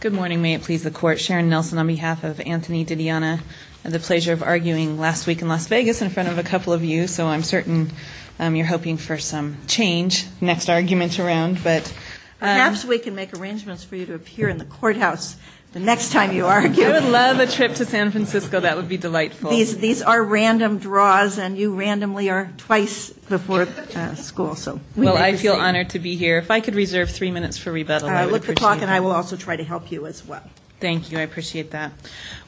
Good morning. May it please the Court. Sharon Nelson on behalf of Anthony Didiana. I had the pleasure of arguing last week in Las Vegas in front of a couple of you, so I'm certain you're hoping for some change next argument around. Perhaps we can make arrangements for you to appear in the courthouse the next time you argue. I would love a trip to San Francisco. That would be delightful. These are random draws, and you randomly are twice before school. Well, I feel honored to be here. If I could reserve three minutes for rebuttal, I would appreciate that. Look the clock, and I will also try to help you as well. Thank you. I appreciate that.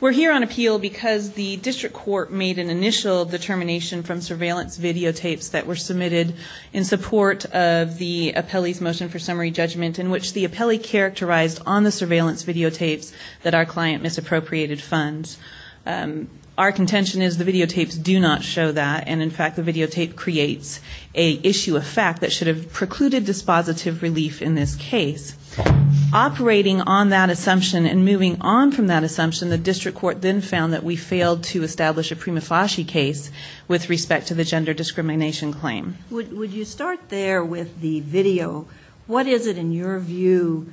We're here on appeal because the district court made an initial determination from surveillance videotapes that were submitted in support of the appellee's motion for summary judgment, in which the appellee characterized on the surveillance videotapes that our client misappropriated funds. Our contention is the videotapes do not show that, and in fact the videotape creates an issue of fact that should have precluded dispositive relief in this case. Operating on that assumption and moving on from that assumption, the district court then found that we failed to establish a prima facie case with respect to the gender discrimination claim. Would you start there with the video? What is it in your view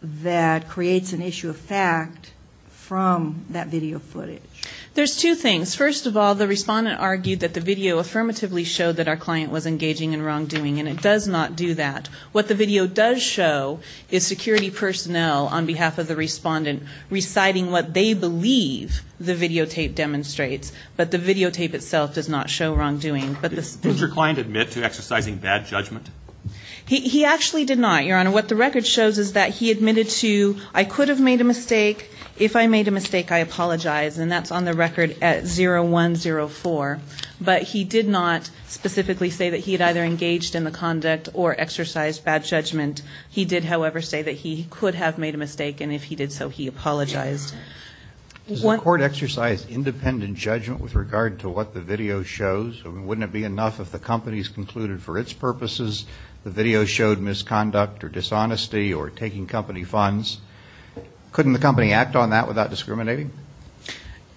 that creates an issue of fact from that video footage? There's two things. First of all, the respondent argued that the video affirmatively showed that our client was engaging in wrongdoing, and it does not do that. What the video does show is security personnel on behalf of the respondent reciting what they believe the videotape demonstrates, but the videotape itself does not show wrongdoing. Did your client admit to exercising bad judgment? He actually did not, Your Honor. What the record shows is that he admitted to, I could have made a mistake. If I made a mistake, I apologize, and that's on the record at 0104. But he did not specifically say that he had either engaged in the conduct or exercised bad judgment. He did, however, say that he could have made a mistake, and if he did so, he apologized. Does the court exercise independent judgment with regard to what the video shows? Wouldn't it be enough if the company's concluded for its purposes the video showed misconduct or dishonesty or taking company funds? Couldn't the company act on that without discriminating?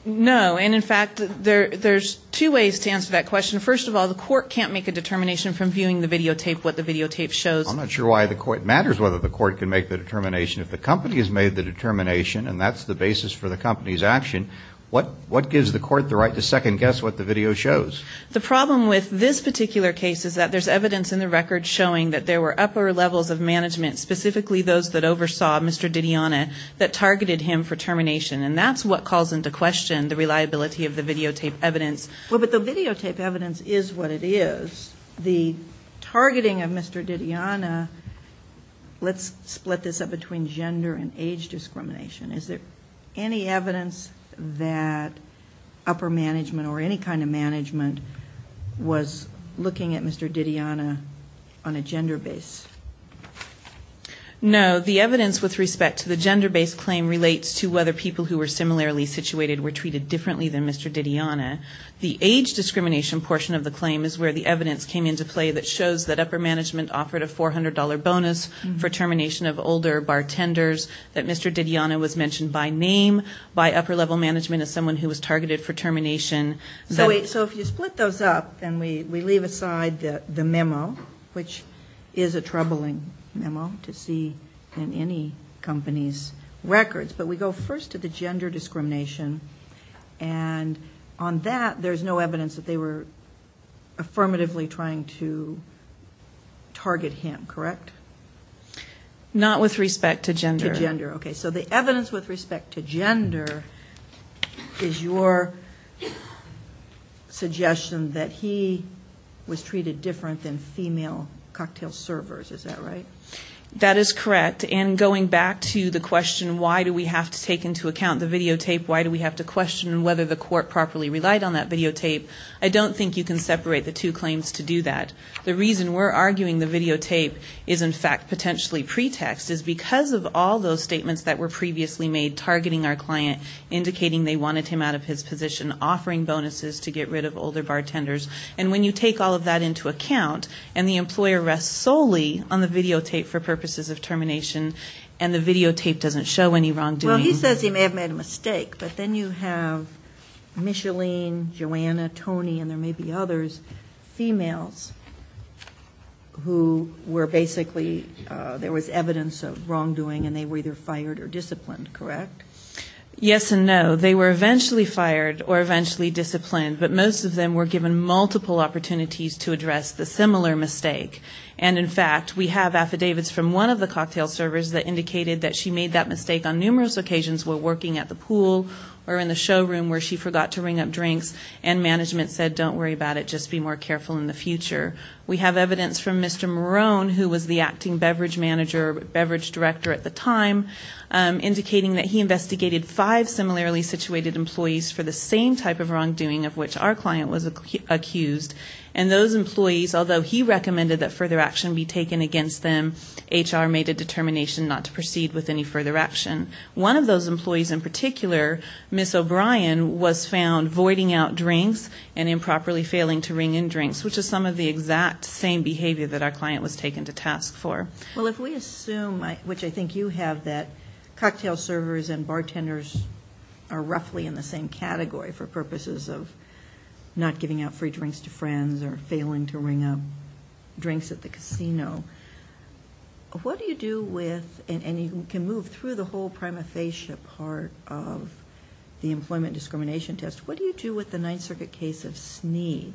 No, and in fact, there's two ways to answer that question. First of all, the court can't make a determination from viewing the videotape what the videotape shows. I'm not sure why the court matters, whether the court can make the determination. If the company has made the determination and that's the basis for the company's action, what gives the court the right to second-guess what the video shows? The problem with this particular case is that there's evidence in the record showing that there were upper levels of management, specifically those that oversaw Mr. Didiana, that targeted him for termination, and that's what calls into question the reliability of the videotape evidence. Well, but the videotape evidence is what it is. The targeting of Mr. Didiana, let's split this up between gender and age discrimination. Is there any evidence that upper management or any kind of management was looking at Mr. Didiana on a gender base? No. The evidence with respect to the gender-based claim relates to whether people who were similarly situated were treated differently than Mr. Didiana. The age discrimination portion of the claim is where the evidence came into play that shows that upper management offered a $400 bonus for termination of older bartenders, that Mr. Didiana was mentioned by name by upper-level management as someone who was targeted for termination. So if you split those up and we leave aside the memo, which is a troubling memo to see in any company's records, but we go first to the gender discrimination, and on that there's no evidence that they were affirmatively trying to target him, correct? Not with respect to gender. To gender, okay. So the evidence with respect to gender is your suggestion that he was treated different than female cocktail servers, is that right? That is correct. And going back to the question why do we have to take into account the videotape, why do we have to question whether the court properly relied on that videotape, I don't think you can separate the two claims to do that. The reason we're arguing the videotape is, in fact, potentially pretext, is because of all those statements that were previously made targeting our client, indicating they wanted him out of his position, offering bonuses to get rid of older bartenders. And when you take all of that into account and the employer rests solely on the videotape for purposes of termination and the videotape doesn't show any wrongdoing. Well, he says he may have made a mistake, but then you have Micheline, Joanna, Tony, and there may be others, females, who were basically there was evidence of wrongdoing and they were either fired or disciplined, correct? Yes and no. They were eventually fired or eventually disciplined, but most of them were given multiple opportunities to address the similar mistake. And, in fact, we have affidavits from one of the cocktail servers that indicated that she made that mistake on numerous occasions while working at the pool or in the showroom where she forgot to ring up drinks and management said don't worry about it, just be more careful in the future. We have evidence from Mr. Marone, who was the acting beverage manager, beverage director at the time, indicating that he investigated five similarly situated employees for the same type of wrongdoing of which our client was accused. And those employees, although he recommended that further action be taken against them, HR made a determination not to proceed with any further action. One of those employees in particular, Ms. O'Brien, was found voiding out drinks and improperly failing to ring in drinks, which is some of the exact same behavior that our client was taken to task for. Well, if we assume, which I think you have, that cocktail servers and bartenders are roughly in the same category for purposes of not giving out free drinks to friends or failing to ring up drinks at the casino, what do you do with, and you can move through the whole prima facie part of the employment discrimination test, what do you do with the Ninth Circuit case of Snead,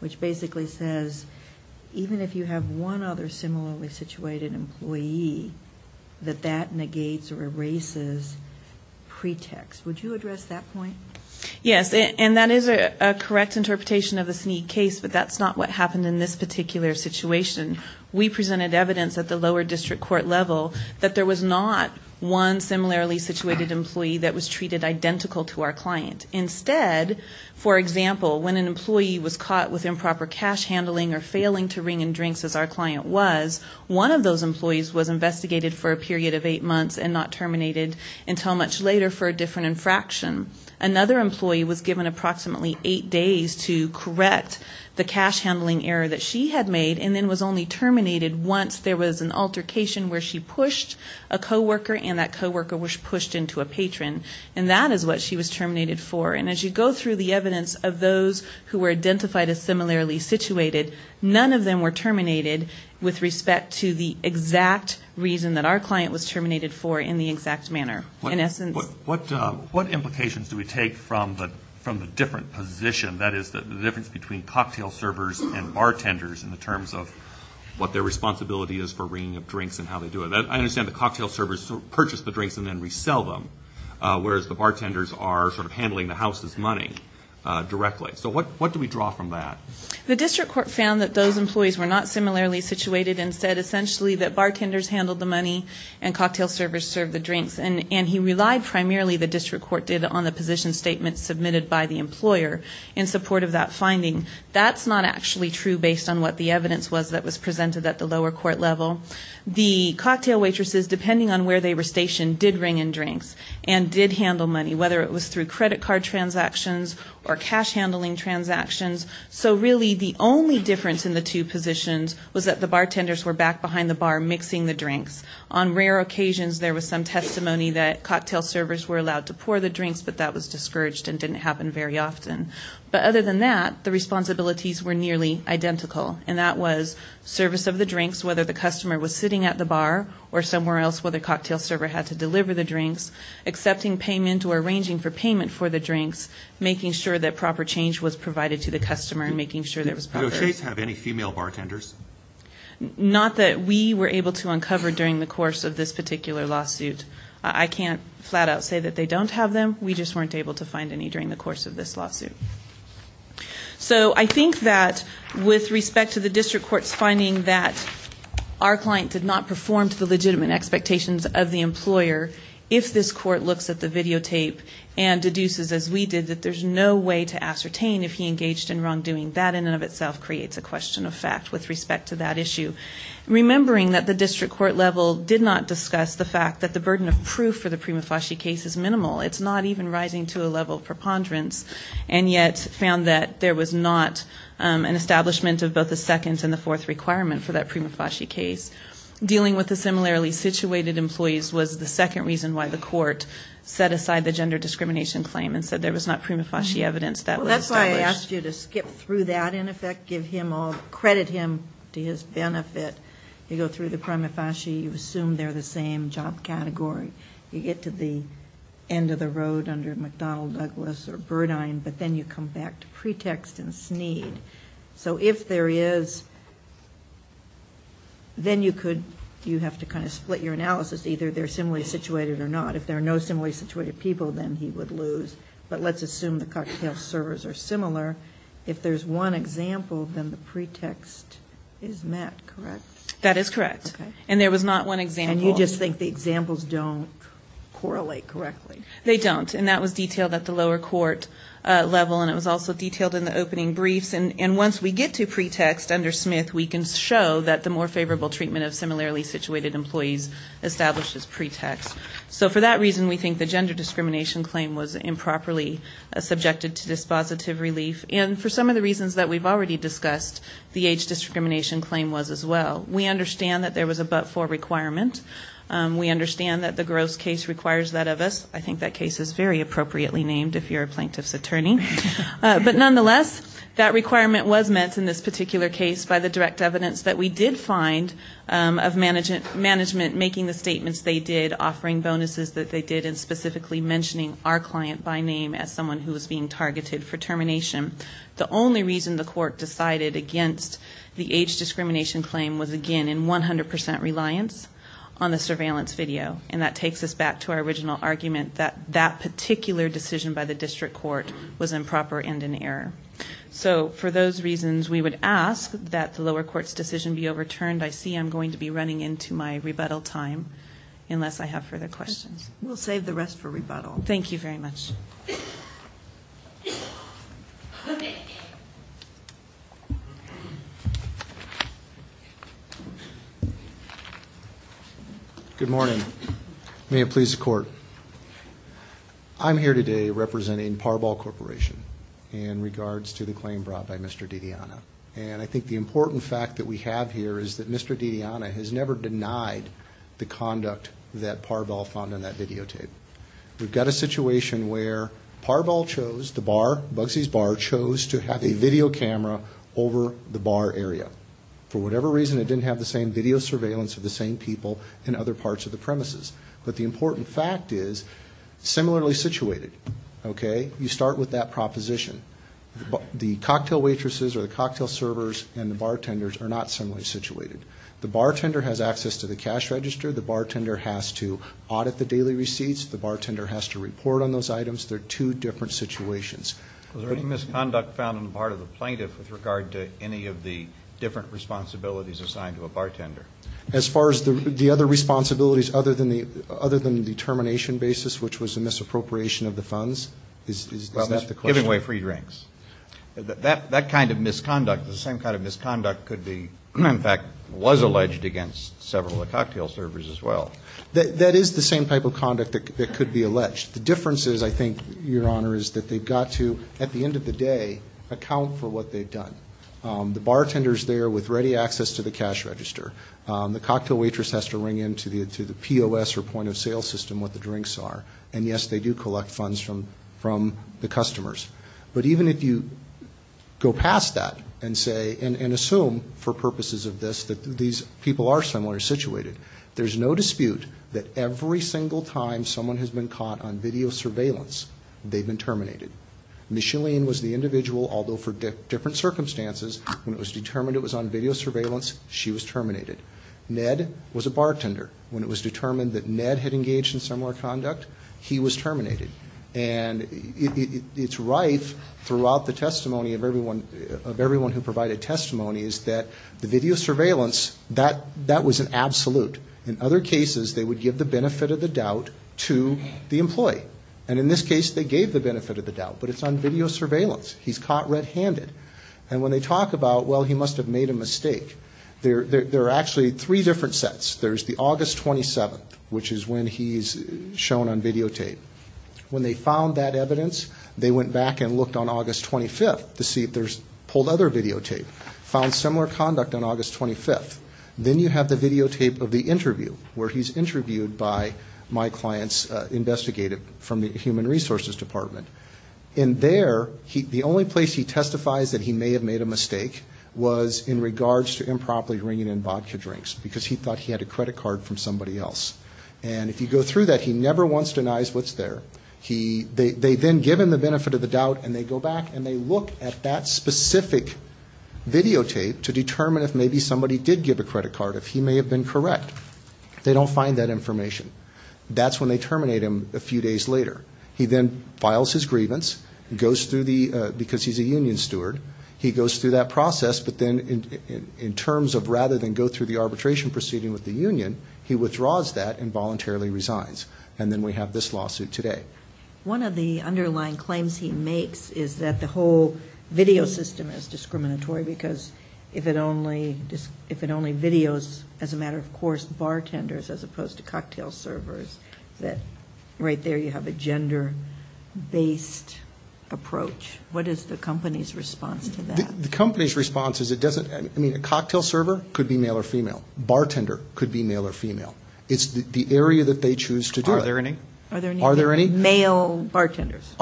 which basically says even if you have one other similarly situated employee, that that negates or erases pretext. Would you address that point? Yes, and that is a correct interpretation of the Snead case, but that's not what happened in this particular situation. We presented evidence at the lower district court level that there was not one similarly situated employee that was treated identical to our client. Instead, for example, when an employee was caught with improper cash handling or failing to ring in drinks as our client was, one of those employees was investigated for a period of eight months and not terminated until much later for a different infraction. Another employee was given approximately eight days to correct the cash handling error that she had made and then was only terminated once there was an altercation where she pushed a co-worker and that co-worker was pushed into a patron, and that is what she was terminated for. And as you go through the evidence of those who were identified as similarly situated, none of them were terminated with respect to the exact reason that our client was terminated for in the exact manner. In essence. What implications do we take from the different position, that is, the difference between cocktail servers and bartenders in terms of what their responsibility is for ringing up drinks and how they do it? I understand the cocktail servers purchase the drinks and then resell them, whereas the bartenders are sort of handling the house's money directly. So what do we draw from that? The district court found that those employees were not similarly situated and said essentially that bartenders handled the money and cocktail servers served the drinks. And he relied primarily, the district court did, on the position statement submitted by the employer in support of that finding. That's not actually true based on what the evidence was that was presented at the lower court level. The cocktail waitresses, depending on where they were stationed, did ring in drinks and did handle money, whether it was through credit card transactions or cash handling transactions. So really the only difference in the two positions was that the bartenders were back behind the bar mixing the drinks. On rare occasions there was some testimony that cocktail servers were allowed to pour the drinks, but that was discouraged and didn't happen very often. But other than that, the responsibilities were nearly identical. And that was service of the drinks, whether the customer was sitting at the bar or somewhere else where the cocktail server had to deliver the drinks, accepting payment or arranging for payment for the drinks, making sure that proper change was provided to the customer and making sure there was proper- Do O'Shea's have any female bartenders? Not that we were able to uncover during the course of this particular lawsuit. I can't flat out say that they don't have them. We just weren't able to find any during the course of this lawsuit. So I think that with respect to the district court's finding that our client did not perform to the legitimate expectations of the employer, if this court looks at the videotape and deduces, as we did, that there's no way to ascertain if he engaged in wrongdoing, that in and of itself creates a question of fact with respect to that issue. Remembering that the district court level did not discuss the fact that the burden of proof for the Prima Fasci case is minimal. It's not even rising to a level of preponderance, and yet found that there was not an establishment of both the second and the fourth requirement for that Prima Fasci case. Dealing with the similarly situated employees was the second reason why the court set aside the gender discrimination claim and said there was not Prima Fasci evidence that was established. Well, that's why I asked you to skip through that, in effect, give him all- credit him to his benefit. You go through the Prima Fasci. You assume they're the same job category. You get to the end of the road under McDonnell, Douglas or Burdine, but then you come back to pretext and sneed. So if there is, then you could, you have to kind of split your analysis, either they're similarly situated or not. If there are no similarly situated people, then he would lose. But let's assume the cocktail servers are similar. If there's one example, then the pretext is met, correct? That is correct. Okay. And there was not one example. And you just think the examples don't correlate correctly. They don't, and that was detailed at the lower court level, and it was also detailed in the opening briefs. And once we get to pretext under Smith, we can show that the more favorable treatment of similarly situated employees establishes pretext. So for that reason, we think the gender discrimination claim was improperly subjected to dispositive relief. And for some of the reasons that we've already discussed, the age discrimination claim was as well. We understand that there was a but-for requirement. We understand that the gross case requires that of us. I think that case is very appropriately named if you're a plaintiff's attorney. But nonetheless, that requirement was met in this particular case by the direct evidence that we did find of management making the statements they did, offering bonuses that they did, and specifically mentioning our client by name as someone who was being targeted for termination. The only reason the court decided against the age discrimination claim was, again, in 100% reliance on the surveillance video. And that takes us back to our original argument that that particular decision by the district court was improper and an error. So for those reasons, we would ask that the lower court's decision be overturned. I see I'm going to be running into my rebuttal time, unless I have further questions. We'll save the rest for rebuttal. Thank you very much. Okay. Good morning. May it please the court. I'm here today representing Parbol Corporation in regards to the claim brought by Mr. DeDiana. And I think the important fact that we have here is that Mr. DeDiana has never denied the conduct that Parbol found on that videotape. We've got a situation where Parbol chose to bar, Bugsy's Bar chose to have a video camera over the bar area. For whatever reason, it didn't have the same video surveillance of the same people in other parts of the premises. But the important fact is, similarly situated, okay? You start with that proposition. The cocktail waitresses or the cocktail servers and the bartenders are not similarly situated. The bartender has access to the cash register. The bartender has to audit the daily receipts. The bartender has to report on those items. They're two different situations. Was there any misconduct found on the part of the plaintiff with regard to any of the different responsibilities assigned to a bartender? As far as the other responsibilities other than the determination basis, which was a misappropriation of the funds, is that the question? Giving away free drinks. That was alleged against several of the cocktail servers as well. That is the same type of conduct that could be alleged. The difference is, I think, Your Honor, is that they've got to, at the end of the day, account for what they've done. The bartender's there with ready access to the cash register. The cocktail waitress has to ring in to the POS or point of sale system what the drinks are. And, yes, they do collect funds from the customers. But even if you go past that and say, and assume for purposes of this that these people are similar situated, there's no dispute that every single time someone has been caught on video surveillance, they've been terminated. Micheline was the individual, although for different circumstances, when it was determined it was on video surveillance, she was terminated. Ned was a bartender. When it was determined that Ned had engaged in similar conduct, he was terminated. And it's rife throughout the testimony of everyone who provided testimony is that the video surveillance, that was an absolute. In other cases, they would give the benefit of the doubt to the employee. And in this case, they gave the benefit of the doubt. But it's on video surveillance. He's caught red-handed. And when they talk about, well, he must have made a mistake, there are actually three different sets. There's the August 27th, which is when he's shown on videotape. When they found that evidence, they went back and looked on August 25th to see if there's pulled other videotape. Found similar conduct on August 25th. Then you have the videotape of the interview, where he's interviewed by my client's investigator from the Human Resources Department. And there, the only place he testifies that he may have made a mistake was in regards to improperly bringing in vodka drinks, because he thought he had a credit card from somebody else. And if you go through that, he never once denies what's there. They then give him the benefit of the doubt, and they go back, and they look at that specific videotape to determine if maybe somebody did give a credit card, if he may have been correct. They don't find that information. That's when they terminate him a few days later. He then files his grievance, because he's a union steward. He goes through that process. But then in terms of rather than go through the arbitration proceeding with the union, he withdraws that and voluntarily resigns. And then we have this lawsuit today. One of the underlying claims he makes is that the whole video system is discriminatory, because if it only videos, as a matter of course, bartenders as opposed to cocktail servers, that right there you have a gender-based approach. What is the company's response to that? The company's response is it doesn't – I mean, a cocktail server could be male or female. Bartender could be male or female. It's the area that they choose to do it. Are there any? Are there any? Male bartenders.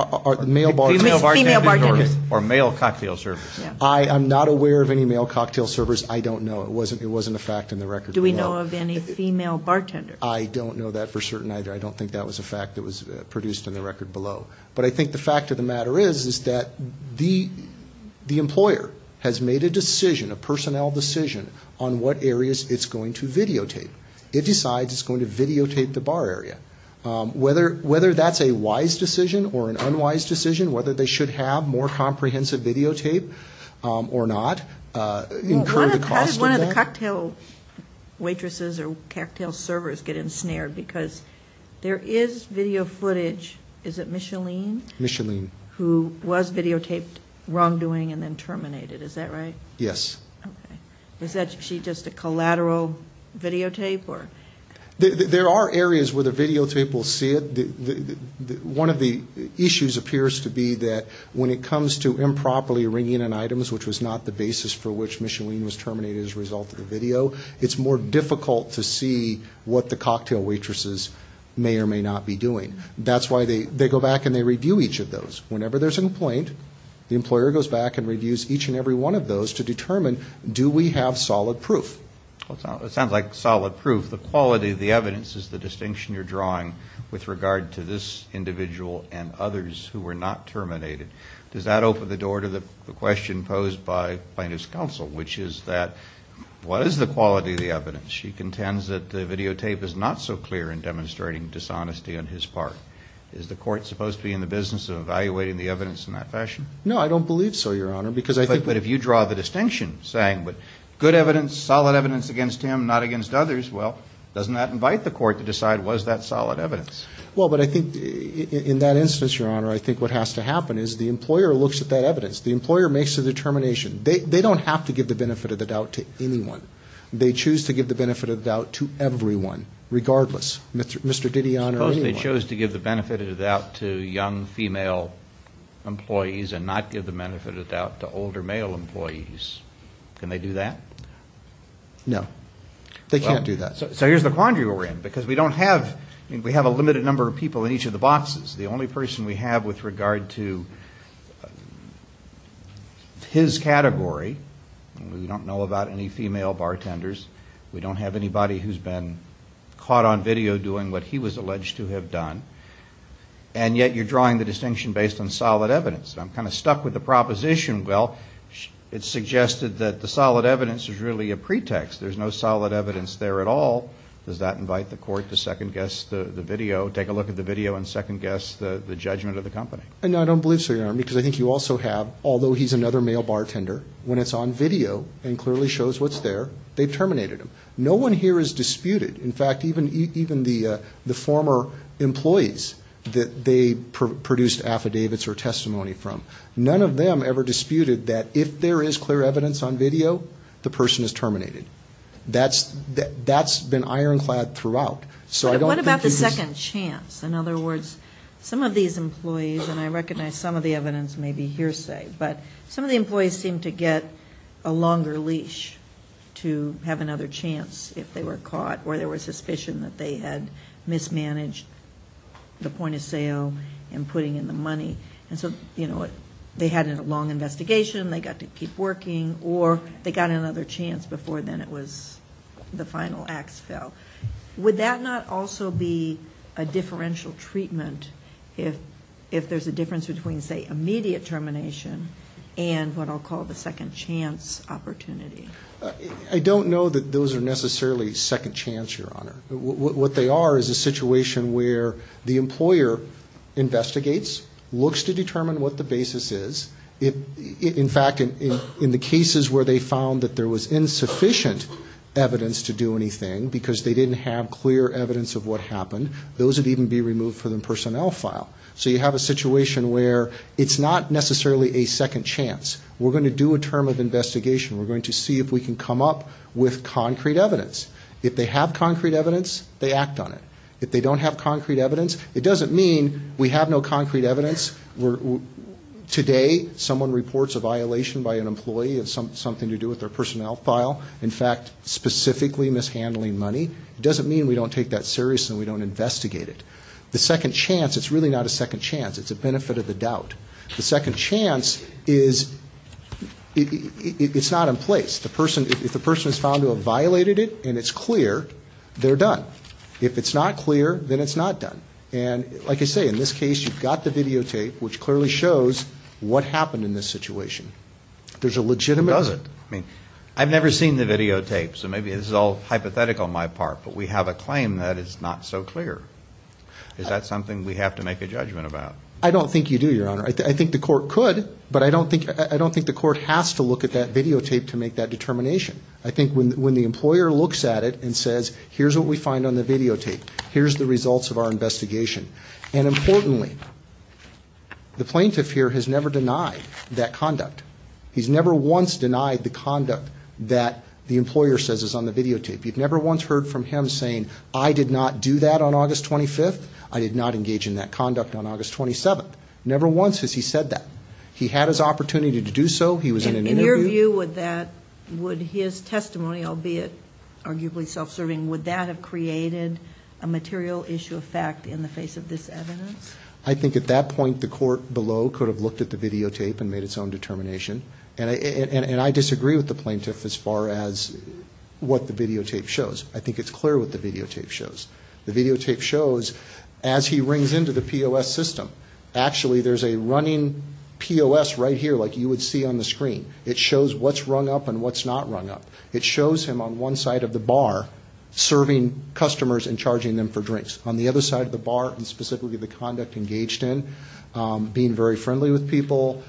Male bartenders. Female bartenders. Or male cocktail servers. I am not aware of any male cocktail servers. I don't know. It wasn't a fact in the record below. Do we know of any female bartenders? I don't know that for certain either. I don't think that was a fact that was produced in the record below. But I think the fact of the matter is is that the employer has made a decision, a personnel decision, on what areas it's going to videotape. It decides it's going to videotape the bar area. Whether that's a wise decision or an unwise decision, whether they should have more comprehensive videotape or not, incur the cost of that. How did one of the cocktail waitresses or cocktail servers get ensnared? Because there is video footage. Is it Micheline? Micheline. Who was videotaped wrongdoing and then terminated. Is that right? Yes. Okay. Is she just a collateral videotape? There are areas where the videotape will see it. One of the issues appears to be that when it comes to improperly ringing in items, which was not the basis for which Micheline was terminated as a result of the video, it's more difficult to see what the cocktail waitresses may or may not be doing. That's why they go back and they review each of those. Whenever there's a complaint, the employer goes back and reviews each and every one of those to determine, do we have solid proof? It sounds like solid proof. The quality of the evidence is the distinction you're drawing with regard to this individual and others who were not terminated. Does that open the door to the question posed by plaintiff's counsel, which is that what is the quality of the evidence? She contends that the videotape is not so clear in demonstrating dishonesty on his part. Is the court supposed to be in the business of evaluating the evidence in that fashion? No, I don't believe so, Your Honor. But if you draw the distinction saying good evidence, solid evidence against him, not against others, well, doesn't that invite the court to decide was that solid evidence? Well, but I think in that instance, Your Honor, I think what has to happen is the employer looks at that evidence. The employer makes a determination. They don't have to give the benefit of the doubt to anyone. They choose to give the benefit of the doubt to everyone, regardless, Mr. Didion or anyone. Suppose they chose to give the benefit of the doubt to young female employees and not give the benefit of the doubt to older male employees. Can they do that? No. They can't do that. So here's the quandary we're in, because we don't have, I mean we have a limited number of people in each of the boxes. The only person we have with regard to his category, we don't know about any female bartenders, we don't have anybody who's been caught on video doing what he was alleged to have done, and yet you're drawing the distinction based on solid evidence. I'm kind of stuck with the proposition. Well, it's suggested that the solid evidence is really a pretext. There's no solid evidence there at all. Does that invite the court to second-guess the video, take a look at the video and second-guess the judgment of the company? No, I don't believe so, Your Honor, because I think you also have, although he's another male bartender, when it's on video and clearly shows what's there, they've terminated him. No one here has disputed, in fact, even the former employees that they produced affidavits or testimony from, none of them ever disputed that if there is clear evidence on video, the person is terminated. That's been ironclad throughout. What about the second chance? In other words, some of these employees, and I recognize some of the evidence may be hearsay, but some of the employees seem to get a longer leash to have another chance if they were caught, or there was suspicion that they had mismanaged the point of sale and putting in the money. And so they had a long investigation, they got to keep working, or they got another chance before then it was the final ax fell. Would that not also be a differential treatment if there's a difference between, say, immediate termination and what I'll call the second chance opportunity? I don't know that those are necessarily second chance, Your Honor. What they are is a situation where the employer investigates, looks to determine what the basis is. In fact, in the cases where they found that there was insufficient evidence to do anything because they didn't have clear evidence of what happened, those would even be removed from the personnel file. So you have a situation where it's not necessarily a second chance. We're going to do a term of investigation. We're going to see if we can come up with concrete evidence. If they have concrete evidence, they act on it. If they don't have concrete evidence, it doesn't mean we have no concrete evidence. Today, someone reports a violation by an employee of something to do with their personnel file, in fact, specifically mishandling money. It doesn't mean we don't take that seriously and we don't investigate it. The second chance, it's really not a second chance. It's a benefit of the doubt. The second chance is it's not in place. If the person is found to have violated it and it's clear, they're done. If it's not clear, then it's not done. And like I say, in this case, you've got the videotape, which clearly shows what happened in this situation. There's a legitimate reason. I've never seen the videotape, so maybe this is all hypothetical on my part, but we have a claim that is not so clear. Is that something we have to make a judgment about? I don't think you do, Your Honor. I think the court could, but I don't think the court has to look at that videotape to make that determination. I think when the employer looks at it and says, here's what we find on the videotape, here's the results of our investigation. And importantly, the plaintiff here has never denied that conduct. He's never once denied the conduct that the employer says is on the videotape. You've never once heard from him saying, I did not do that on August 25th. I did not engage in that conduct on August 27th. Never once has he said that. He had his opportunity to do so. He was in an interview. In your view, would his testimony, albeit arguably self-serving, would that have created a material issue of fact in the face of this evidence? I think at that point the court below could have looked at the videotape and made its own determination. And I disagree with the plaintiff as far as what the videotape shows. I think it's clear what the videotape shows. The videotape shows, as he rings into the POS system, actually there's a running POS right here like you would see on the screen. It shows what's rung up and what's not rung up. It shows him on one side of the bar serving customers and charging them for drinks. On the other side of the bar, and specifically the conduct engaged in, being very friendly with people,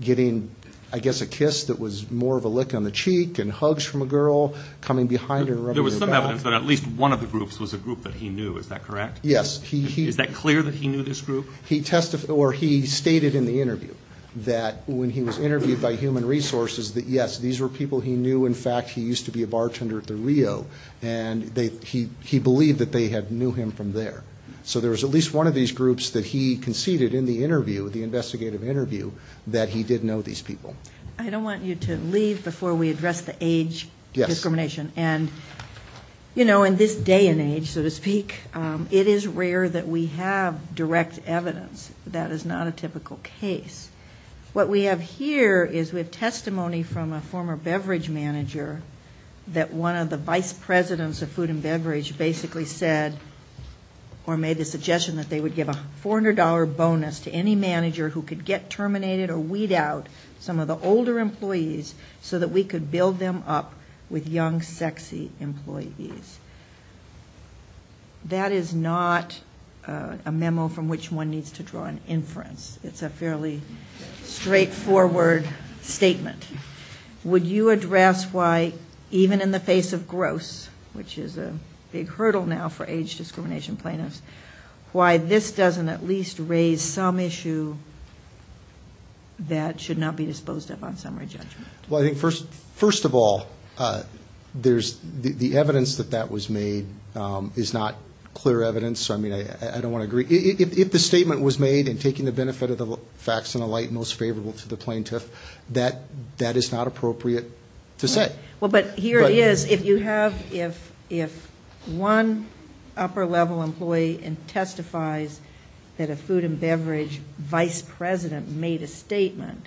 getting, I guess, a kiss that was more of a lick on the cheek and hugs from a girl, coming behind her. There was some evidence that at least one of the groups was a group that he knew. Is that correct? Yes. Is that clear that he knew this group? He stated in the interview that when he was interviewed by Human Resources that, yes, these were people he knew. In fact, he used to be a bartender at the Rio. And he believed that they had knew him from there. So there was at least one of these groups that he conceded in the interview, the investigative interview, that he did know these people. I don't want you to leave before we address the age discrimination. And, you know, in this day and age, so to speak, it is rare that we have direct evidence. That is not a typical case. What we have here is we have testimony from a former beverage manager that one of the vice presidents of food and beverage basically said, or made the suggestion that they would give a $400 bonus to any manager who could get terminated or weed out some of the older employees so that we could build them up with young, sexy employees. That is not a memo from which one needs to draw an inference. It's a fairly straightforward statement. Would you address why, even in the face of gross, which is a big hurdle now for age discrimination plaintiffs, why this doesn't at least raise some issue that should not be disposed of on summary judgment? Well, I think first of all, the evidence that that was made is not clear evidence. So, I mean, I don't want to agree. If the statement was made in taking the benefit of the facts in a light most favorable to the plaintiff, that is not appropriate to say. Well, but here it is. If you have, if one upper-level employee testifies that a food and beverage vice president made a statement,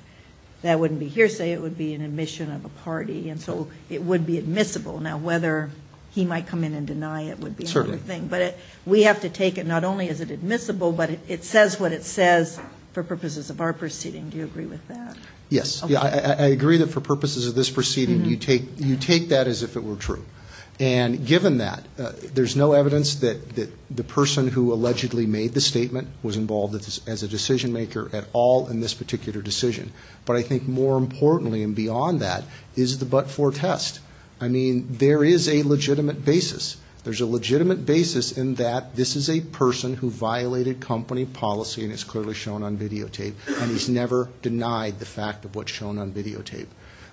that wouldn't be hearsay, it would be an admission of a party, and so it would be admissible. Now, whether he might come in and deny it would be another thing. Certainly. But we have to take it not only is it admissible, but it says what it says for purposes of our proceeding. Do you agree with that? Yes. I agree that for purposes of this proceeding, you take that as if it were true. And given that, there's no evidence that the person who allegedly made the statement was involved as a decision-maker at all in this particular decision. But I think more importantly and beyond that is the but-for test. I mean, there is a legitimate basis. There's a legitimate basis in that this is a person who violated company policy, and it's clearly shown on videotape, and he's never denied the fact of what's shown on videotape.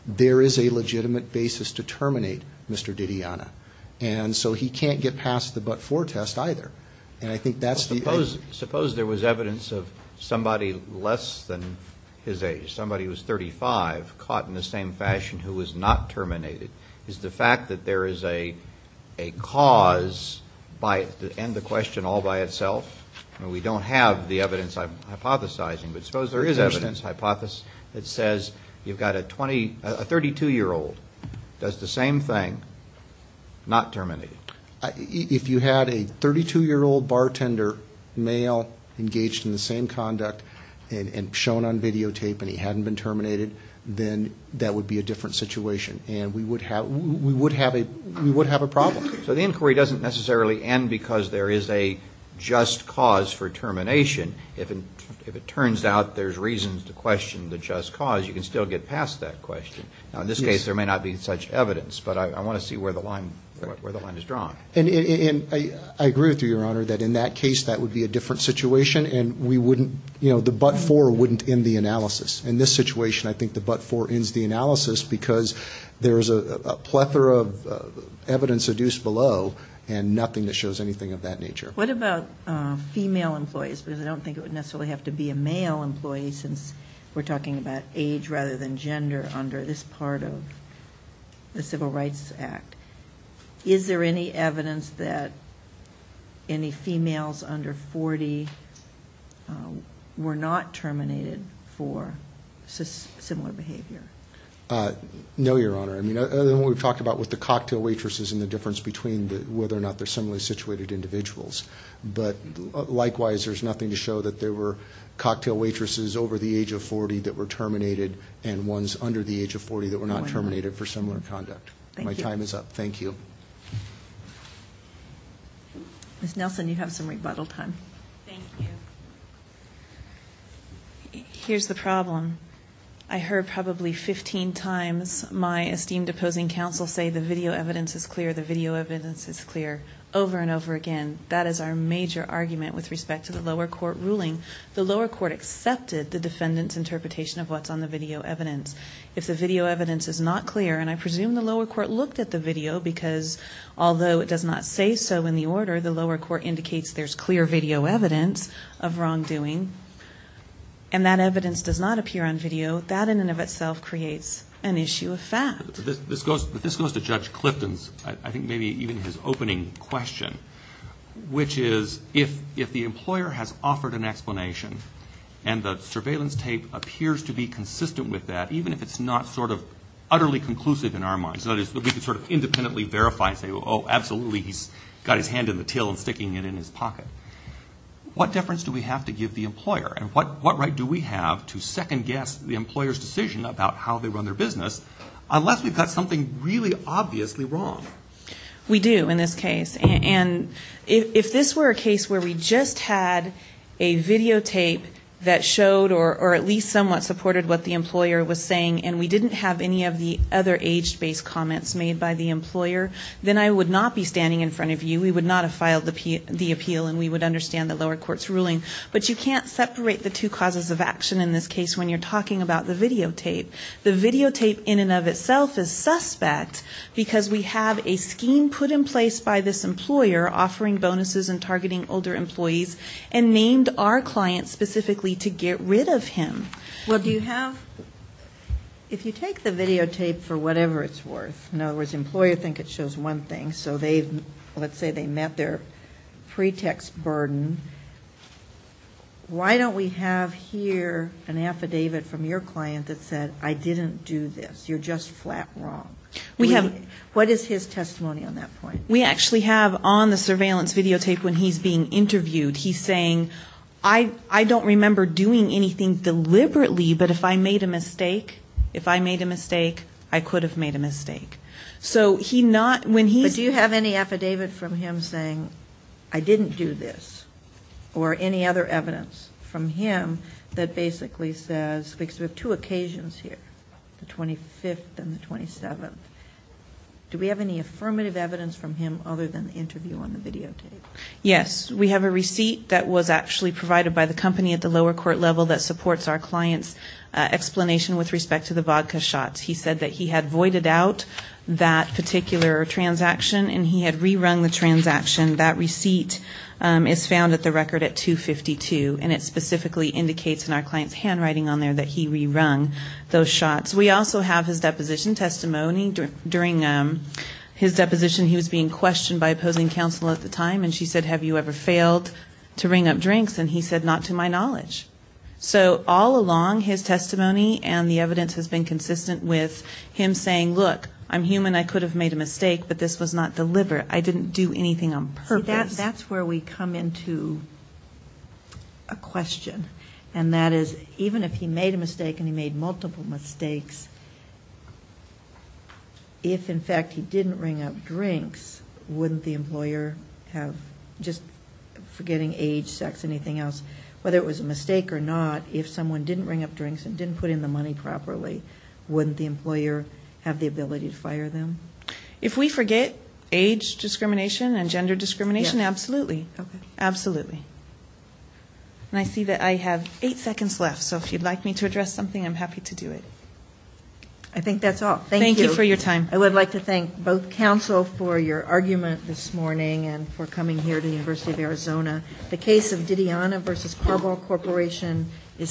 There is a legitimate basis to terminate Mr. Didiana. And so he can't get past the but-for test either. And I think that's the idea. Suppose there was evidence of somebody less than his age, somebody who was 35, caught in the same fashion who was not terminated. Is the fact that there is a cause and the question all by itself, and we don't have the evidence I'm hypothesizing, but suppose there is evidence that says you've got a 32-year-old, does the same thing, not terminated. If you had a 32-year-old bartender, male, engaged in the same conduct and shown on videotape and he hadn't been terminated, then that would be a different situation. And we would have a problem. So the inquiry doesn't necessarily end because there is a just cause for termination. If it turns out there's reasons to question the just cause, you can still get past that question. Now, in this case, there may not be such evidence, but I want to see where the line is drawn. And I agree with you, Your Honor, that in that case that would be a different situation, and we wouldn't, you know, the but-for wouldn't end the analysis. In this situation, I think the but-for ends the analysis because there is a plethora of evidence seduced below and nothing that shows anything of that nature. What about female employees? Because I don't think it would necessarily have to be a male employee since we're talking about age rather than gender under this part of the Civil Rights Act. Is there any evidence that any females under 40 were not terminated for similar behavior? No, Your Honor. I mean, other than what we've talked about with the cocktail waitresses and the difference between whether or not they're similarly situated individuals. But likewise, there's nothing to show that there were cocktail waitresses over the age of 40 that were terminated and ones under the age of 40 that were not terminated for similar conduct. My time is up. Thank you. Ms. Nelson, you have some rebuttal time. Thank you. Here's the problem. I heard probably 15 times my esteemed opposing counsel say the video evidence is clear, the video evidence is clear, over and over again. That is our major argument with respect to the lower court ruling. The lower court accepted the defendant's interpretation of what's on the video evidence. If the video evidence is not clear, and I presume the lower court looked at the video, because although it does not say so in the order, the lower court indicates there's clear video evidence of wrongdoing, and that evidence does not appear on video, that in and of itself creates an issue of fact. But this goes to Judge Clifton's, I think maybe even his opening question, which is if the employer has offered an explanation and the surveillance tape appears to be consistent with that, even if it's not sort of utterly conclusive in our minds, that is, that we can sort of independently verify and say, oh, absolutely, he's got his hand in the till and sticking it in his pocket, what deference do we have to give the employer, and what right do we have to second-guess the employer's decision about how they run their business, unless we've got something really obviously wrong? We do in this case. And if this were a case where we just had a videotape that showed or at least somewhat supported what the employer was saying and we didn't have any of the other age-based comments made by the employer, then I would not be standing in front of you, we would not have filed the appeal, and we would understand the lower court's ruling. But you can't separate the two causes of action in this case when you're talking about the videotape. The videotape in and of itself is suspect, because we have a scheme put in place by this employer offering bonuses and targeting older employees, and named our client specifically to get rid of him. Well, do you have the videotape for whatever it's worth? In other words, the employer thinks it shows one thing, so let's say they met their pretext burden. Why don't we have here an affidavit from your client that said, I didn't do this. You're just flat wrong. What is his testimony on that point? We actually have on the surveillance videotape when he's being interviewed, he's saying, I don't remember doing anything deliberately, but if I made a mistake, if I made a mistake, I could have made a mistake. So he not, when he's ---- I didn't do this, or any other evidence from him that basically says, because we have two occasions here, the 25th and the 27th. Do we have any affirmative evidence from him other than the interview on the videotape? Yes. We have a receipt that was actually provided by the company at the lower court level that supports our client's explanation with respect to the vodka shots. He said that he had voided out that particular transaction, and he had rerun the transaction. That receipt is found at the record at 252, and it specifically indicates in our client's handwriting on there that he rerun those shots. We also have his deposition testimony. During his deposition, he was being questioned by opposing counsel at the time, and she said, have you ever failed to ring up drinks? And he said, not to my knowledge. So all along, his testimony and the evidence has been consistent with him saying, look, I'm human, I could have made a mistake, but this was not delivered. I didn't do anything on purpose. See, that's where we come into a question, and that is even if he made a mistake, and he made multiple mistakes, if, in fact, he didn't ring up drinks, wouldn't the employer have, just forgetting age, sex, anything else, and whether it was a mistake or not, if someone didn't ring up drinks and didn't put in the money properly, wouldn't the employer have the ability to fire them? If we forget age discrimination and gender discrimination, absolutely. Absolutely. And I see that I have eight seconds left, so if you'd like me to address something, I'm happy to do it. I think that's all. Thank you. Thank you for your time. and for coming here to the University of Arizona. The case of Didiana v. Carball Corporation is submitted.